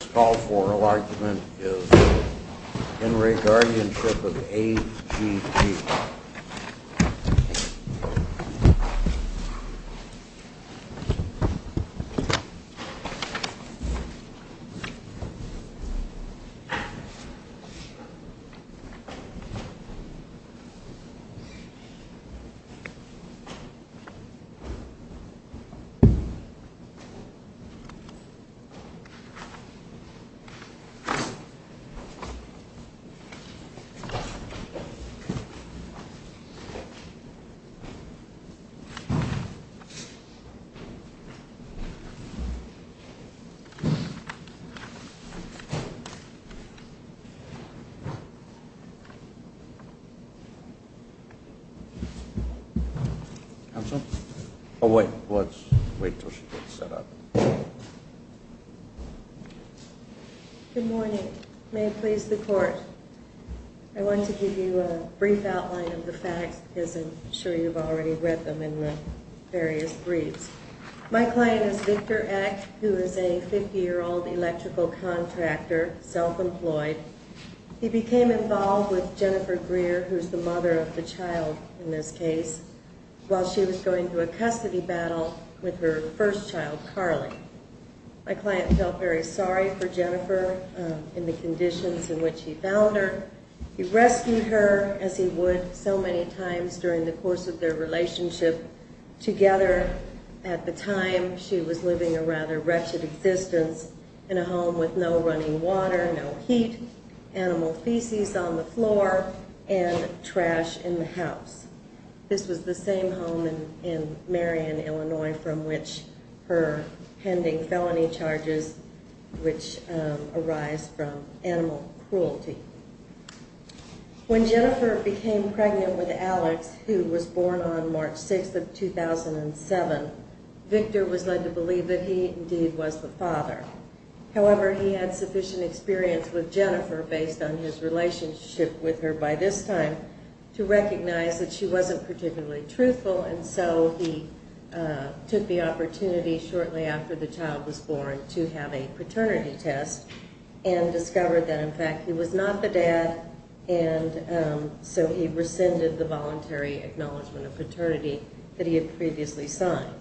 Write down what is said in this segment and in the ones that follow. This call for argument is Henry Guardianship of A.G.G. This call for argument is Henry Guardianship of A.G.G. Good morning. May it please the Court. I want to give you a brief outline of the facts because I'm sure you've already read them in the various briefs. My client is Victor Eck, who is a 50-year-old electrical contractor, self-employed. He became involved with Jennifer Greer, who is the mother of the child in this case, while she was going to a custody battle with her first child, Carly. My client felt very sorry for Jennifer in the conditions in which he found her. He rescued her as he would so many times during the course of their relationship together. At the time, she was living a rather wretched existence in a home with no running water, no heat, animal feces on the floor, and trash in the house. This was the same home in Marion, Illinois, from which her pending felony charges, which arise from animal cruelty. When Jennifer became pregnant with Alex, who was born on March 6th of 2007, Victor was led to believe that he indeed was the father. However, he had sufficient experience with Jennifer based on his relationship with her by this time to recognize that she wasn't particularly truthful, and so he took the opportunity shortly after the child was born to have a paternity test and discovered that in fact he was not the dad, and so he rescinded the voluntary acknowledgment of paternity that he had previously signed.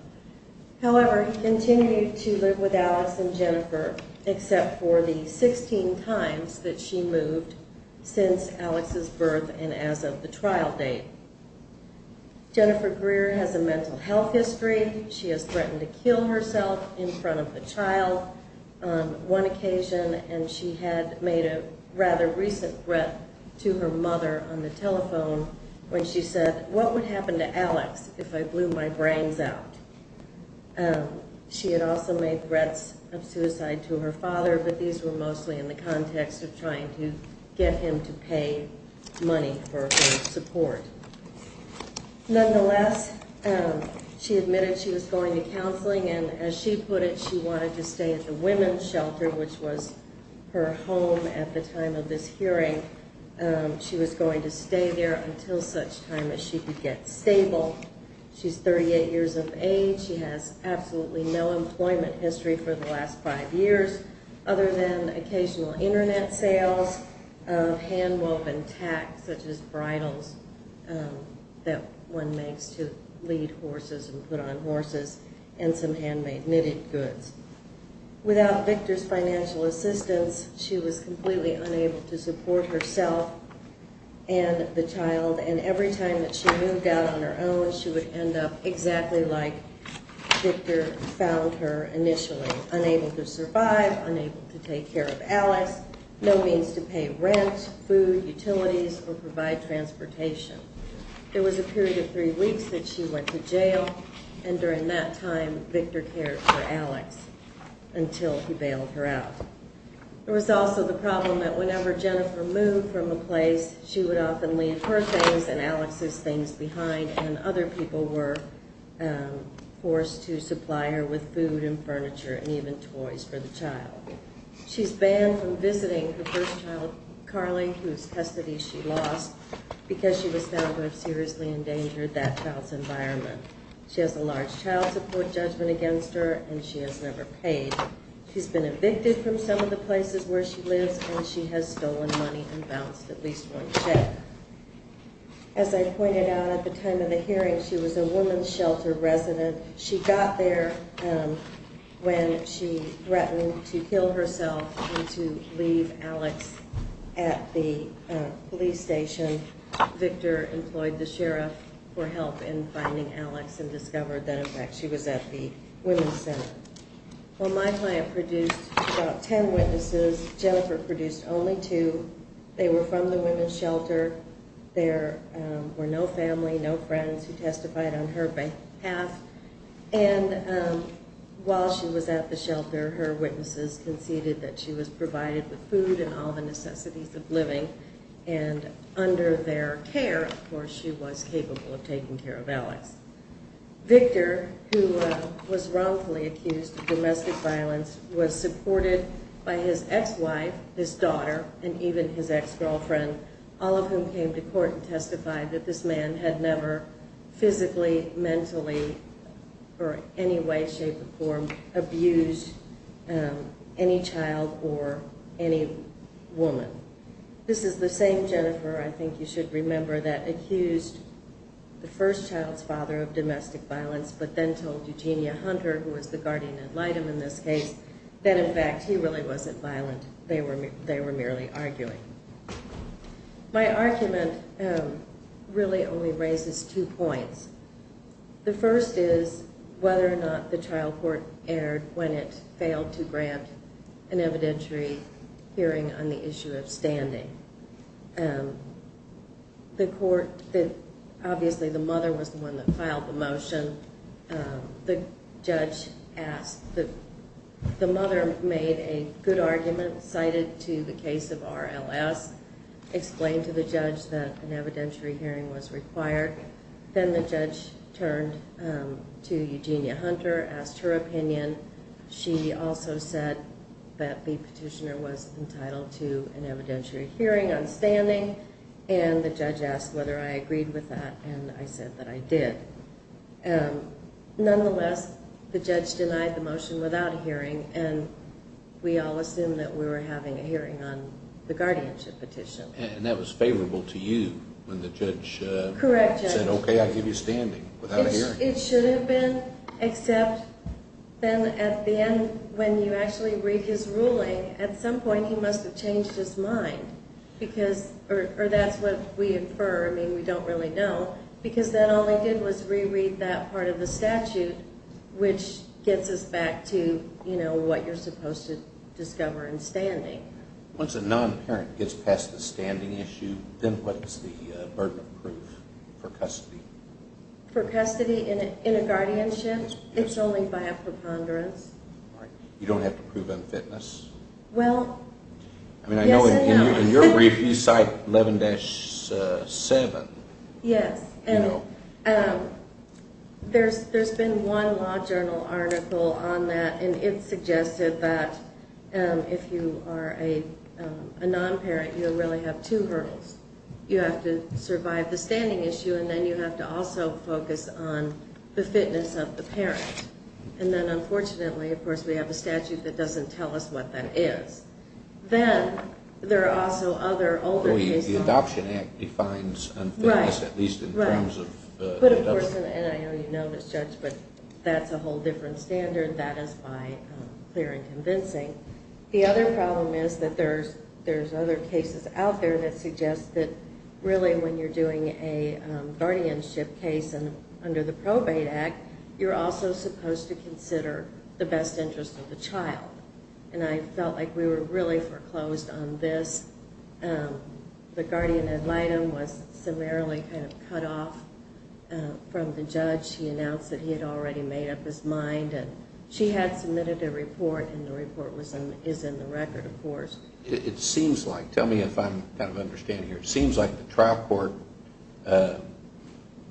However, he continued to live with Alex and Jennifer except for the 16 times that she moved since Alex's birth and as of the trial date. Jennifer Greer has a mental health history. She has threatened to kill herself in front of the child on one occasion, and she had made a rather recent threat to her mother on the telephone when she said, What would happen to Alex if I blew my brains out? She had also made threats of suicide to her father, but these were mostly in the context of trying to get him to pay money for her support. Nonetheless, she admitted she was going to counseling, and as she put it, she wanted to stay at the women's shelter, which was her home at the time of this hearing. She was going to stay there until such time as she could get stable. She's 38 years of age. She has absolutely no employment history for the last five years other than occasional Internet sales, hand-woven tacks such as bridles that one makes to lead horses and put on horses, and some handmade knitted goods. Without Victor's financial assistance, she was completely unable to support herself and the child, and every time that she moved out on her own, she would end up exactly like Victor found her initially, unable to survive, unable to take care of Alex, no means to pay rent, food, utilities, or provide transportation. There was a period of three weeks that she went to jail, and during that time, Victor cared for Alex until he bailed her out. There was also the problem that whenever Jennifer moved from a place, she would often leave her things and Alex's things behind, and other people were forced to supply her with food and furniture and even toys for the child. She's banned from visiting her first child, Carly, whose custody she lost because she was found to have seriously endangered that child's environment. She has a large child support judgment against her, and she has never paid. She's been evicted from some of the places where she lives, and she has stolen money and bounced at least one check. As I pointed out at the time of the hearing, she was a woman's shelter resident. She got there when she threatened to kill herself and to leave Alex at the police station. During the hearing, Victor employed the sheriff for help in finding Alex and discovered that, in fact, she was at the women's center. While my client produced about ten witnesses, Jennifer produced only two. They were from the women's shelter. There were no family, no friends who testified on her behalf, and while she was at the shelter, her witnesses conceded that she was provided with food and all the necessities of living, and under their care, of course, she was capable of taking care of Alex. Victor, who was wrongfully accused of domestic violence, was supported by his ex-wife, his daughter, and even his ex-girlfriend, all of whom came to court and testified that this man had never physically, mentally, or any way, shape, or form abused any child or any woman. This is the same Jennifer, I think you should remember, that accused the first child's father of domestic violence but then told Eugenia Hunter, who was the guardian ad litem in this case, that, in fact, he really wasn't violent. They were merely arguing. My argument really only raises two points. The first is whether or not the trial court erred when it failed to grant an evidentiary hearing on the issue of standing. The court, obviously the mother was the one that filed the motion. The judge asked, the mother made a good argument, cited to the case of RLS, explained to the judge that an evidentiary hearing was required. Then the judge turned to Eugenia Hunter, asked her opinion. She also said that the petitioner was entitled to an evidentiary hearing on standing, and the judge asked whether I agreed with that, and I said that I did. Nonetheless, the judge denied the motion without a hearing, and we all assumed that we were having a hearing on the guardianship petition. And that was favorable to you when the judge said, okay, I'll give you standing without a hearing. It should have been, except then at the end, when you actually read his ruling, at some point he must have changed his mind or that's what we infer, I mean we don't really know, because then all he did was reread that part of the statute, which gets us back to what you're supposed to discover in standing. Once a non-parent gets past the standing issue, then what is the burden of proof for custody? For custody in a guardianship, it's only by a preponderance. You don't have to prove unfitness? Well, yes and no. I mean I know in your brief you cite 11-7. Yes, and there's been one law journal article on that, and it suggested that if you are a non-parent, you really have two hurdles. You have to survive the standing issue, and then you have to also focus on the fitness of the parent. And then unfortunately, of course, we have a statute that doesn't tell us what that is. Then there are also other older cases. The Adoption Act defines unfitness at least in terms of the adult. But of course, and I know you know this, Judge, but that's a whole different standard. That is my clear and convincing. The other problem is that there's other cases out there that suggest that really when you're doing a guardianship case under the Probate Act, you're also supposed to consider the best interest of the child. And I felt like we were really foreclosed on this. The guardian ad litem was summarily kind of cut off from the judge. He announced that he had already made up his mind, and she had submitted a report, and the report is in the record, of course. It seems like, tell me if I'm kind of understanding here, it seems like the trial court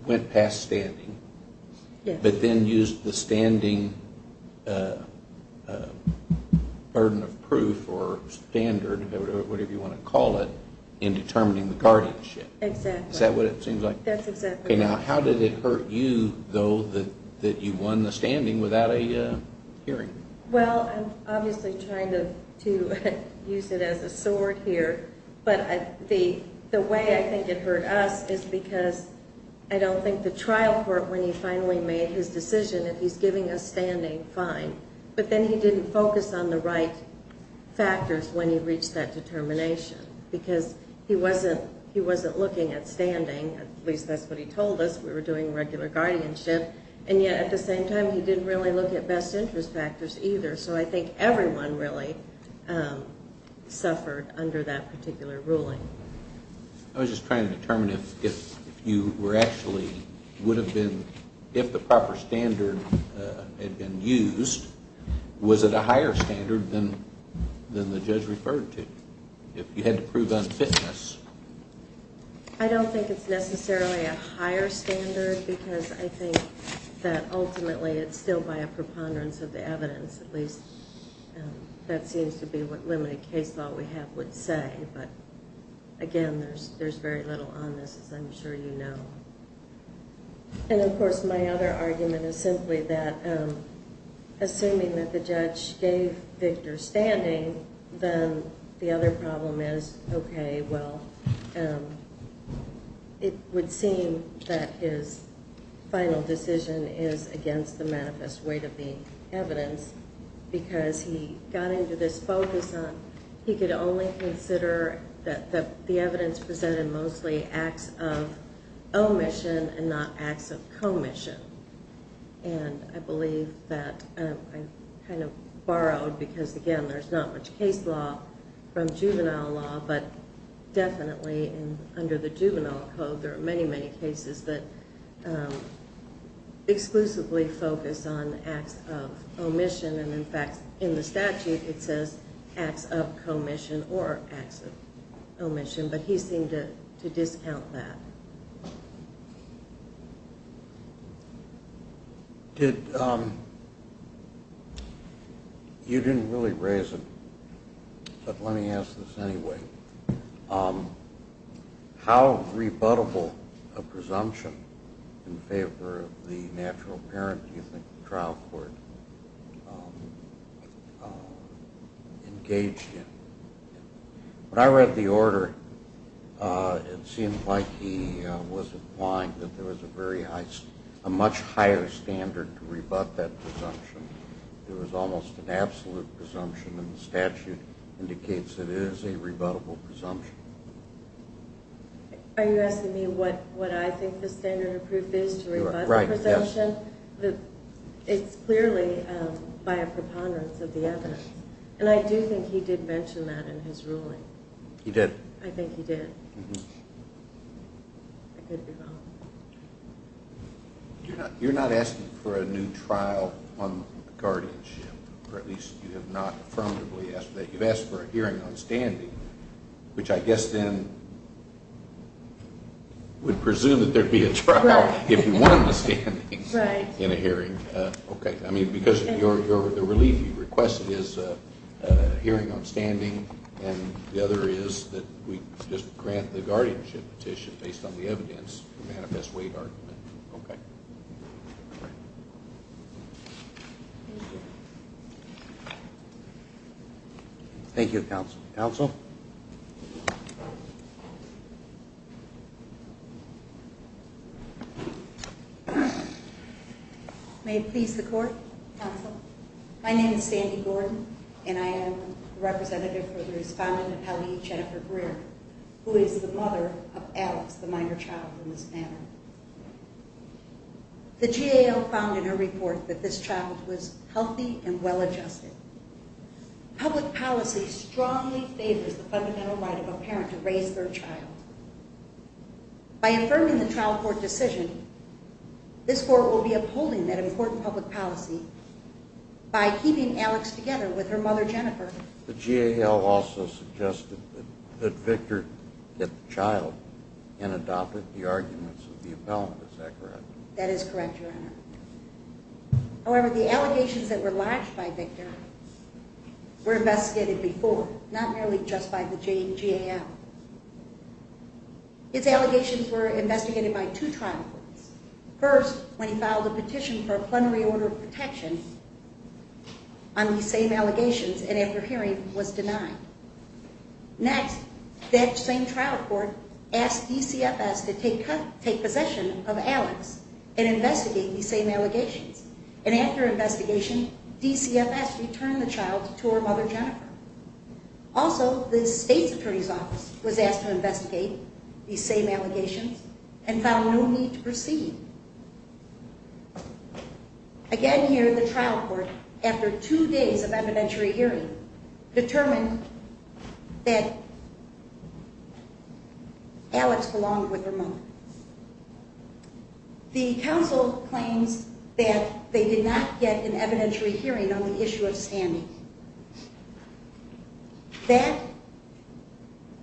went past standing. But then used the standing burden of proof or standard, whatever you want to call it, in determining the guardianship. Exactly. Is that what it seems like? That's exactly right. Now, how did it hurt you, though, that you won the standing without a hearing? Well, I'm obviously trying to use it as a sword here. But the way I think it hurt us is because I don't think the trial court when he finally made his decision that he's giving us standing, fine. But then he didn't focus on the right factors when he reached that determination because he wasn't looking at standing. At least that's what he told us. We were doing regular guardianship. And yet, at the same time, he didn't really look at best interest factors either. So I think everyone really suffered under that particular ruling. I was just trying to determine if the proper standard had been used, was it a higher standard than the judge referred to? If you had to prove unfitness. I don't think it's necessarily a higher standard because I think that ultimately it's still by a preponderance of the evidence, at least that seems to be what limited case law we have would say. But, again, there's very little on this, as I'm sure you know. And, of course, my other argument is simply that assuming that the judge gave Victor standing, then the other problem is, okay, well, it would seem that his final decision is against the manifest weight of the evidence because he got into this focus on he could only consider that the evidence presented mostly acts of omission and not acts of commission. And I believe that I kind of borrowed because, again, there's not much case law from juvenile law, but definitely under the juvenile code there are many, many cases that exclusively focus on acts of omission. And, in fact, in the statute it says acts of commission or acts of omission, but he seemed to discount that. You didn't really raise it, but let me ask this anyway. How rebuttable a presumption in favor of the natural parent do you think the trial court engaged in? When I read the order, it seemed like he was implying that there was a much higher standard to rebut that presumption. It was almost an absolute presumption, but the statement in the statute indicates it is a rebuttable presumption. Are you asking me what I think the standard of proof is to rebut the presumption? It's clearly by a preponderance of the evidence. And I do think he did mention that in his ruling. He did? I think he did. You're not asking for a new trial on guardianship, or at least you have not affirmatively asked for that. You've asked for a hearing on standing, which I guess then would presume that there would be a trial if you won the standing. Right. In a hearing. Okay. I mean, because the relief you requested is a hearing on standing, and the other is that we just grant the guardianship petition based on the evidence Okay. Thank you, Counsel. Counsel? May it please the Court, Counsel? My name is Sandy Gordon, and I am the representative for the respondent of Hallie Jennifer Greer, who is the mother of Alex, the minor child, in this matter. The GAO found in her report that this child was healthy and well-adjusted. Public policy strongly favors the fundamental right of a parent to raise their child. By affirming the trial court decision, this court will be upholding that important public policy by keeping Alex together with her mother Jennifer. The GAO also suggested that Victor get the child and adopted the arguments of the appellant. Is that correct? That is correct, Your Honor. However, the allegations that were lodged by Victor were investigated before, not merely just by the GAO. His allegations were investigated by two trial courts. First, when he filed a petition for a plenary order of protection on these same allegations, and after hearing, was denied. Next, that same trial court asked DCFS to take possession of Alex and investigate these same allegations. And after investigation, DCFS returned the child to her mother Jennifer. Also, the state's attorney's office was asked to investigate these same allegations and found no need to proceed. Again here, the trial court, after two days of evidentiary hearing, determined that Alex belonged with her mother. The counsel claims that they did not get an evidentiary hearing on the issue of standing. That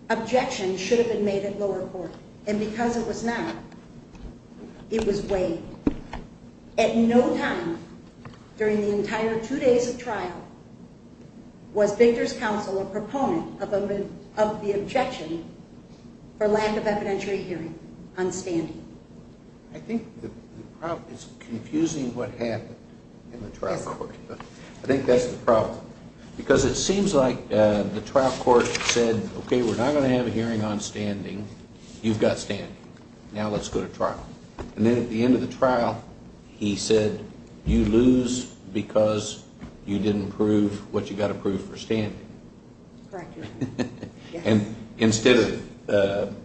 objection should have been made at lower court, and because it was not, it was waived. At no time, during the entire two days of trial, was Victor's counsel a proponent of the objection for lack of evidentiary hearing on standing. I think it's confusing what happened in the trial court. I think that's the problem. Because it seems like the trial court said, Okay, we're not going to have a hearing on standing. You've got standing. Now let's go to trial. And then at the end of the trial, he said, You lose because you didn't prove what you got approved for standing. Correct. And instead of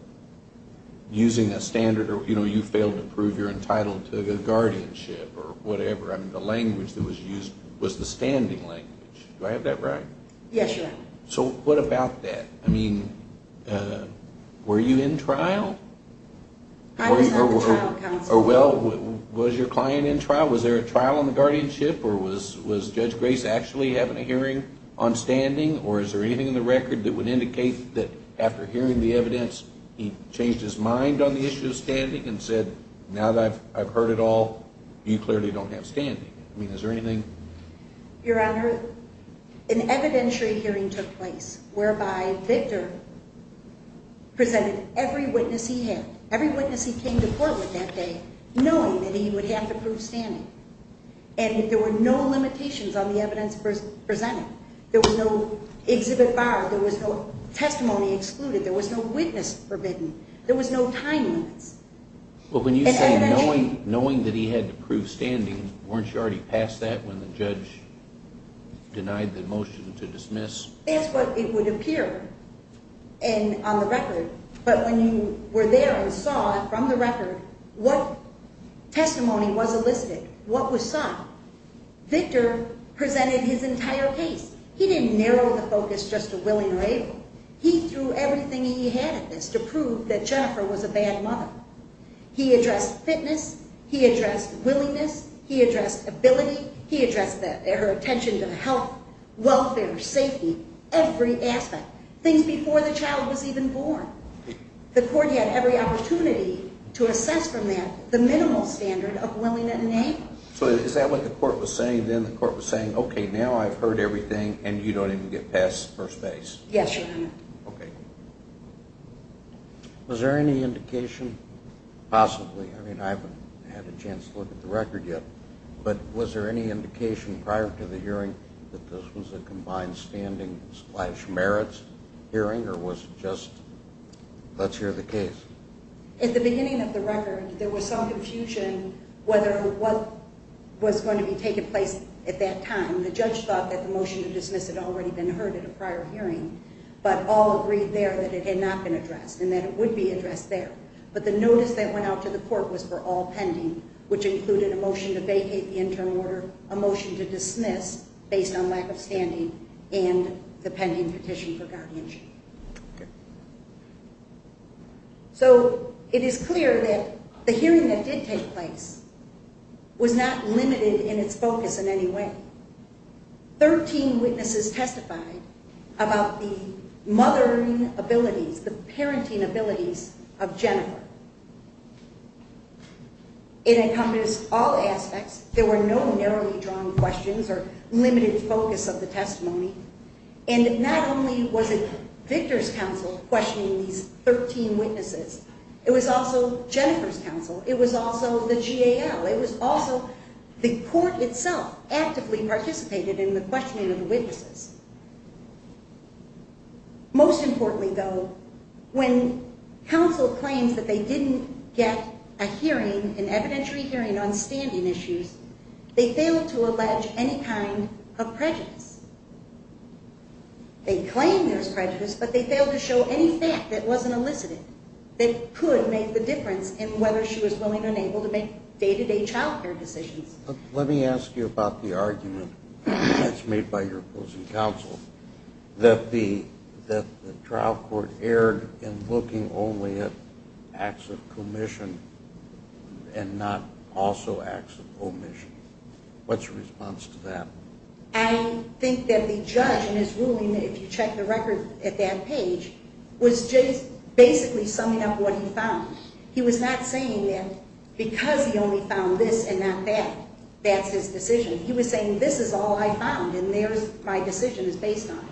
using a standard, you know, you failed to prove you're entitled to a guardianship or whatever. I mean, the language that was used was the standing language. Do I have that right? Yes, Your Honor. So what about that? I mean, were you in trial? I was not the trial counsel. Well, was your client in trial? Was there a trial on the guardianship? Or was Judge Grace actually having a hearing on standing? Or is there anything in the record that would indicate that after hearing the evidence, he changed his mind on the issue of standing and said, Now that I've heard it all, you clearly don't have standing. I mean, is there anything? Your Honor, an evidentiary hearing took place, whereby Victor presented every witness he had, every witness he came to court with that day, knowing that he would have to prove standing. And there were no limitations on the evidence presented. There was no exhibit barred. There was no testimony excluded. There was no witness forbidden. There was no time limits. Well, when you say knowing that he had to prove standing, weren't you already past that when the judge denied the motion to dismiss? That's what it would appear on the record. But when you were there and saw from the record what testimony was elicited, what was sought, Victor presented his entire case. He didn't narrow the focus just to Willing or Able. He threw everything he had at this to prove that Jennifer was a bad mother. He addressed fitness. He addressed willingness. He addressed ability. He addressed her attention to health, welfare, safety, every aspect, things before the child was even born. The court had every opportunity to assess from that the minimal standard of Willing and Able. So is that what the court was saying then? The court was saying, okay, now I've heard everything, and you don't even get past first base? Yes, Your Honor. Okay. Was there any indication possibly? I mean, I haven't had a chance to look at the record yet. But was there any indication prior to the hearing that this was a combined standing slash merits hearing, or was it just let's hear the case? At the beginning of the record, there was some confusion whether what was going to be taking place at that time. The judge thought that the motion to dismiss had already been heard at a prior hearing, but all agreed there that it had not been addressed and that it would be addressed there. But the notice that went out to the court was for all pending, which included a motion to vacate the interim order, a motion to dismiss based on lack of standing, and the pending petition for guardianship. Okay. So it is clear that the hearing that did take place was not limited in its focus in any way. Thirteen witnesses testified about the mothering abilities, the parenting abilities of Jennifer. It encompassed all aspects. There were no narrowly drawn questions or limited focus of the testimony. And not only was it Victor's counsel questioning these 13 witnesses, it was also Jennifer's counsel. It was also the GAL. the witnesses. Most importantly, though, when counsel claims that they didn't get a hearing, an evidentiary hearing on standing issues, they failed to allege any kind of prejudice. They claim there's prejudice, but they failed to show any fact that wasn't elicited that could make the difference in whether she was willing or unable to make day-to-day child care decisions. Let me ask you about the argument that's made by your opposing counsel that the trial court erred in looking only at acts of commission and not also acts of omission. What's your response to that? I think that the judge in his ruling, if you check the record at that page, was just basically summing up what he found. He was not saying that because he only found this and not that, that's his decision. He was saying, this is all I found and my decision is based on it.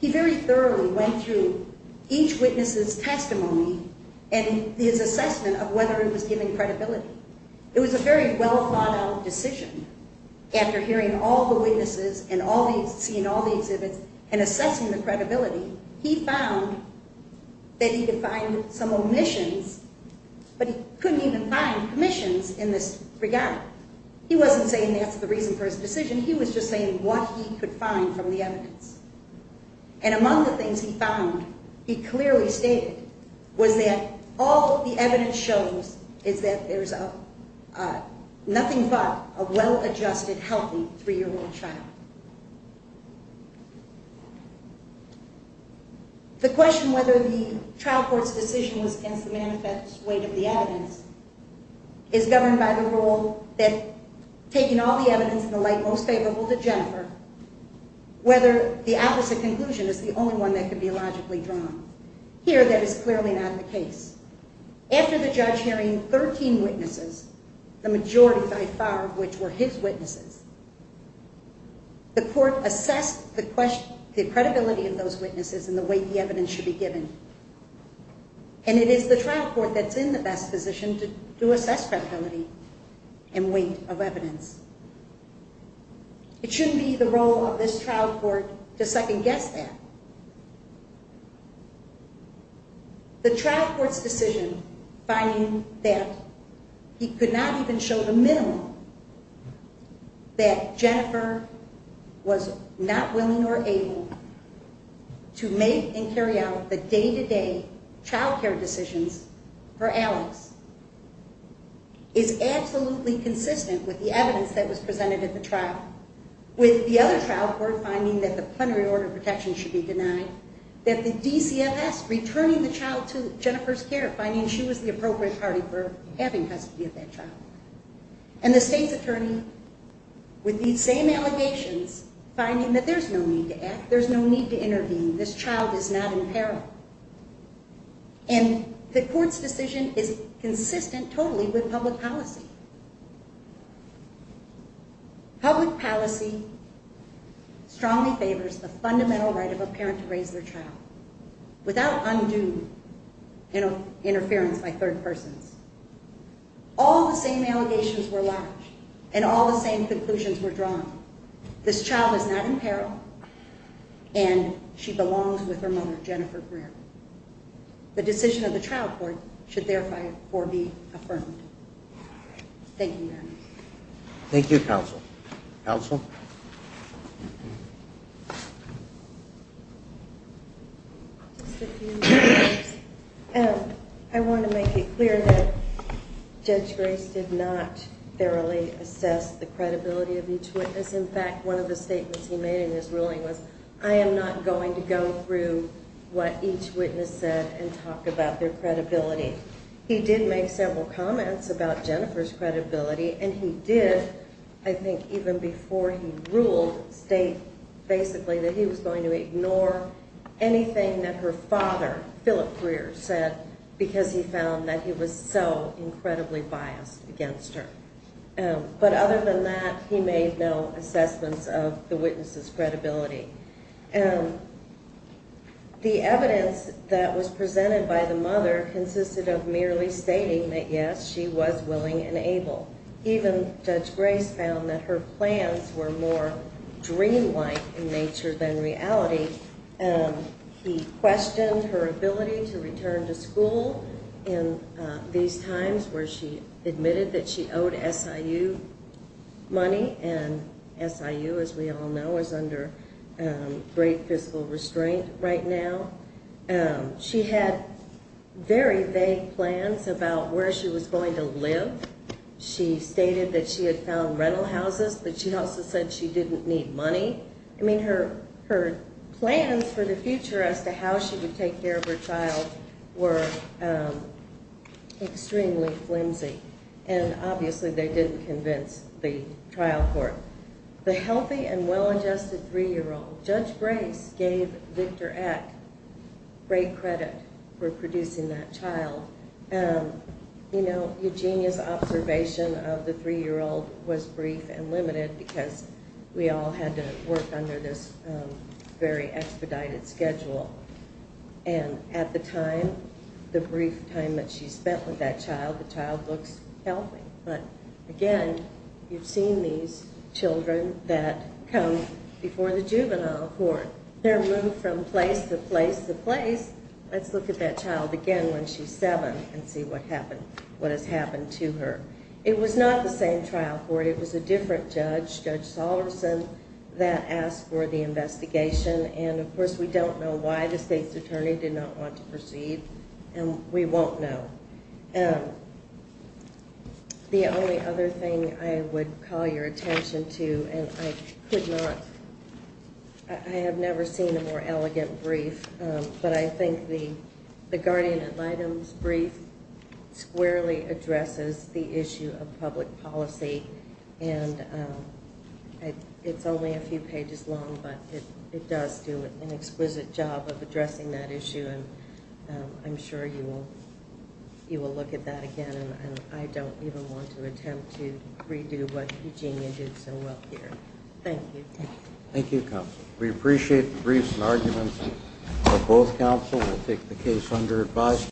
He very thoroughly went through each witness's testimony and his assessment of whether it was given credibility. It was a very well thought out decision. After hearing all the witnesses and seeing all the exhibits and assessing the credibility, he found that he defined some omissions, but he couldn't even find commissions in this regard. He wasn't saying that's the reason for his decision. He was just saying what he could find from the evidence. And among the things he found, he clearly stated, was that all the evidence shows is that there's nothing but a well adjusted, healthy three-year-old child. The question whether the trial court's decision was against the manifest weight of the evidence is governed by the rule that taking all the evidence in the light most favorable to Jennifer, whether the opposite conclusion is the only one that can be logically drawn. Here, that is clearly not the case. After the judge hearing 13 witnesses, the majority by far of which were his witnesses, the court assessed the credibility of those witnesses and the weight the evidence should be given. And it is the trial court that's in the best position to assess credibility and weight of evidence. It shouldn't be the role of this trial court to second guess that. The trial court's decision finding that he could not even show the minimum that Jennifer was not willing or able to make and carry out the day-to-day child care decisions for Alex is absolutely consistent with the evidence that was presented at the trial, with the other trial court finding that the plenary order of protection should be denied, that the DCFS returning the child to Jennifer's care, finding she was the appropriate party for having custody of that child. And the state's attorney, with these same allegations, finding that there's no need to act, there's no need to intervene, this child is not in peril. And the court's decision is consistent totally with public policy. Public policy strongly favors the fundamental right of a parent to raise their child without undue interference by third persons. All the same allegations were lodged and all the same conclusions were drawn. This child is not in peril and she belongs with her mother, Jennifer Greer. The decision of the trial court should therefore be affirmed. Thank you very much. Thank you, counsel. Counsel? Just a few more words. I want to make it clear that Judge Grace did not thoroughly assess the credibility of each witness. In fact, one of the statements he made in his ruling was, I am not going to go through what each witness said and talk about their credibility. He did make several comments about Jennifer's credibility, and he did, I think even before he ruled, state basically that he was going to ignore anything that her father, Philip Greer, said, because he found that he was so incredibly biased against her. But other than that, he made no assessments of the witness's credibility. The evidence that was presented by the mother consisted of merely stating that, yes, she was willing and able. Even Judge Grace found that her plans were more dreamlike in nature than reality. He questioned her ability to return to school in these times where she admitted that she owed SIU money, and SIU, as we all know, is under great fiscal restraint right now. She had very vague plans about where she was going to live. She stated that she had found rental houses, but she also said she didn't need money. I mean, her plans for the future as to how she would take care of her child were extremely flimsy, and obviously they didn't convince the trial court. The healthy and well-adjusted 3-year-old, Judge Grace, gave Victor Eck great credit for producing that child. You know, Eugenia's observation of the 3-year-old was brief and limited because we all had to work under this very expedited schedule. And at the time, the brief time that she spent with that child, the child looks healthy. But, again, you've seen these children that come before the juvenile court. They're moved from place to place to place. Let's look at that child again when she's 7 and see what has happened to her. It was not the same trial court. It was a different judge, Judge Salterson, that asked for the investigation. And, of course, we don't know why the state's attorney did not want to proceed, and we won't know. The only other thing I would call your attention to, and I have never seen a more elegant brief, but I think the guardian ad litem's brief squarely addresses the issue of public policy. And it's only a few pages long, but it does do an exquisite job of addressing that issue, and I'm sure you will look at that again. And I don't even want to attempt to redo what Eugenia did so well here. Thank you. Thank you, counsel. We appreciate the briefs and arguments of both counsel. We'll take the case under advice.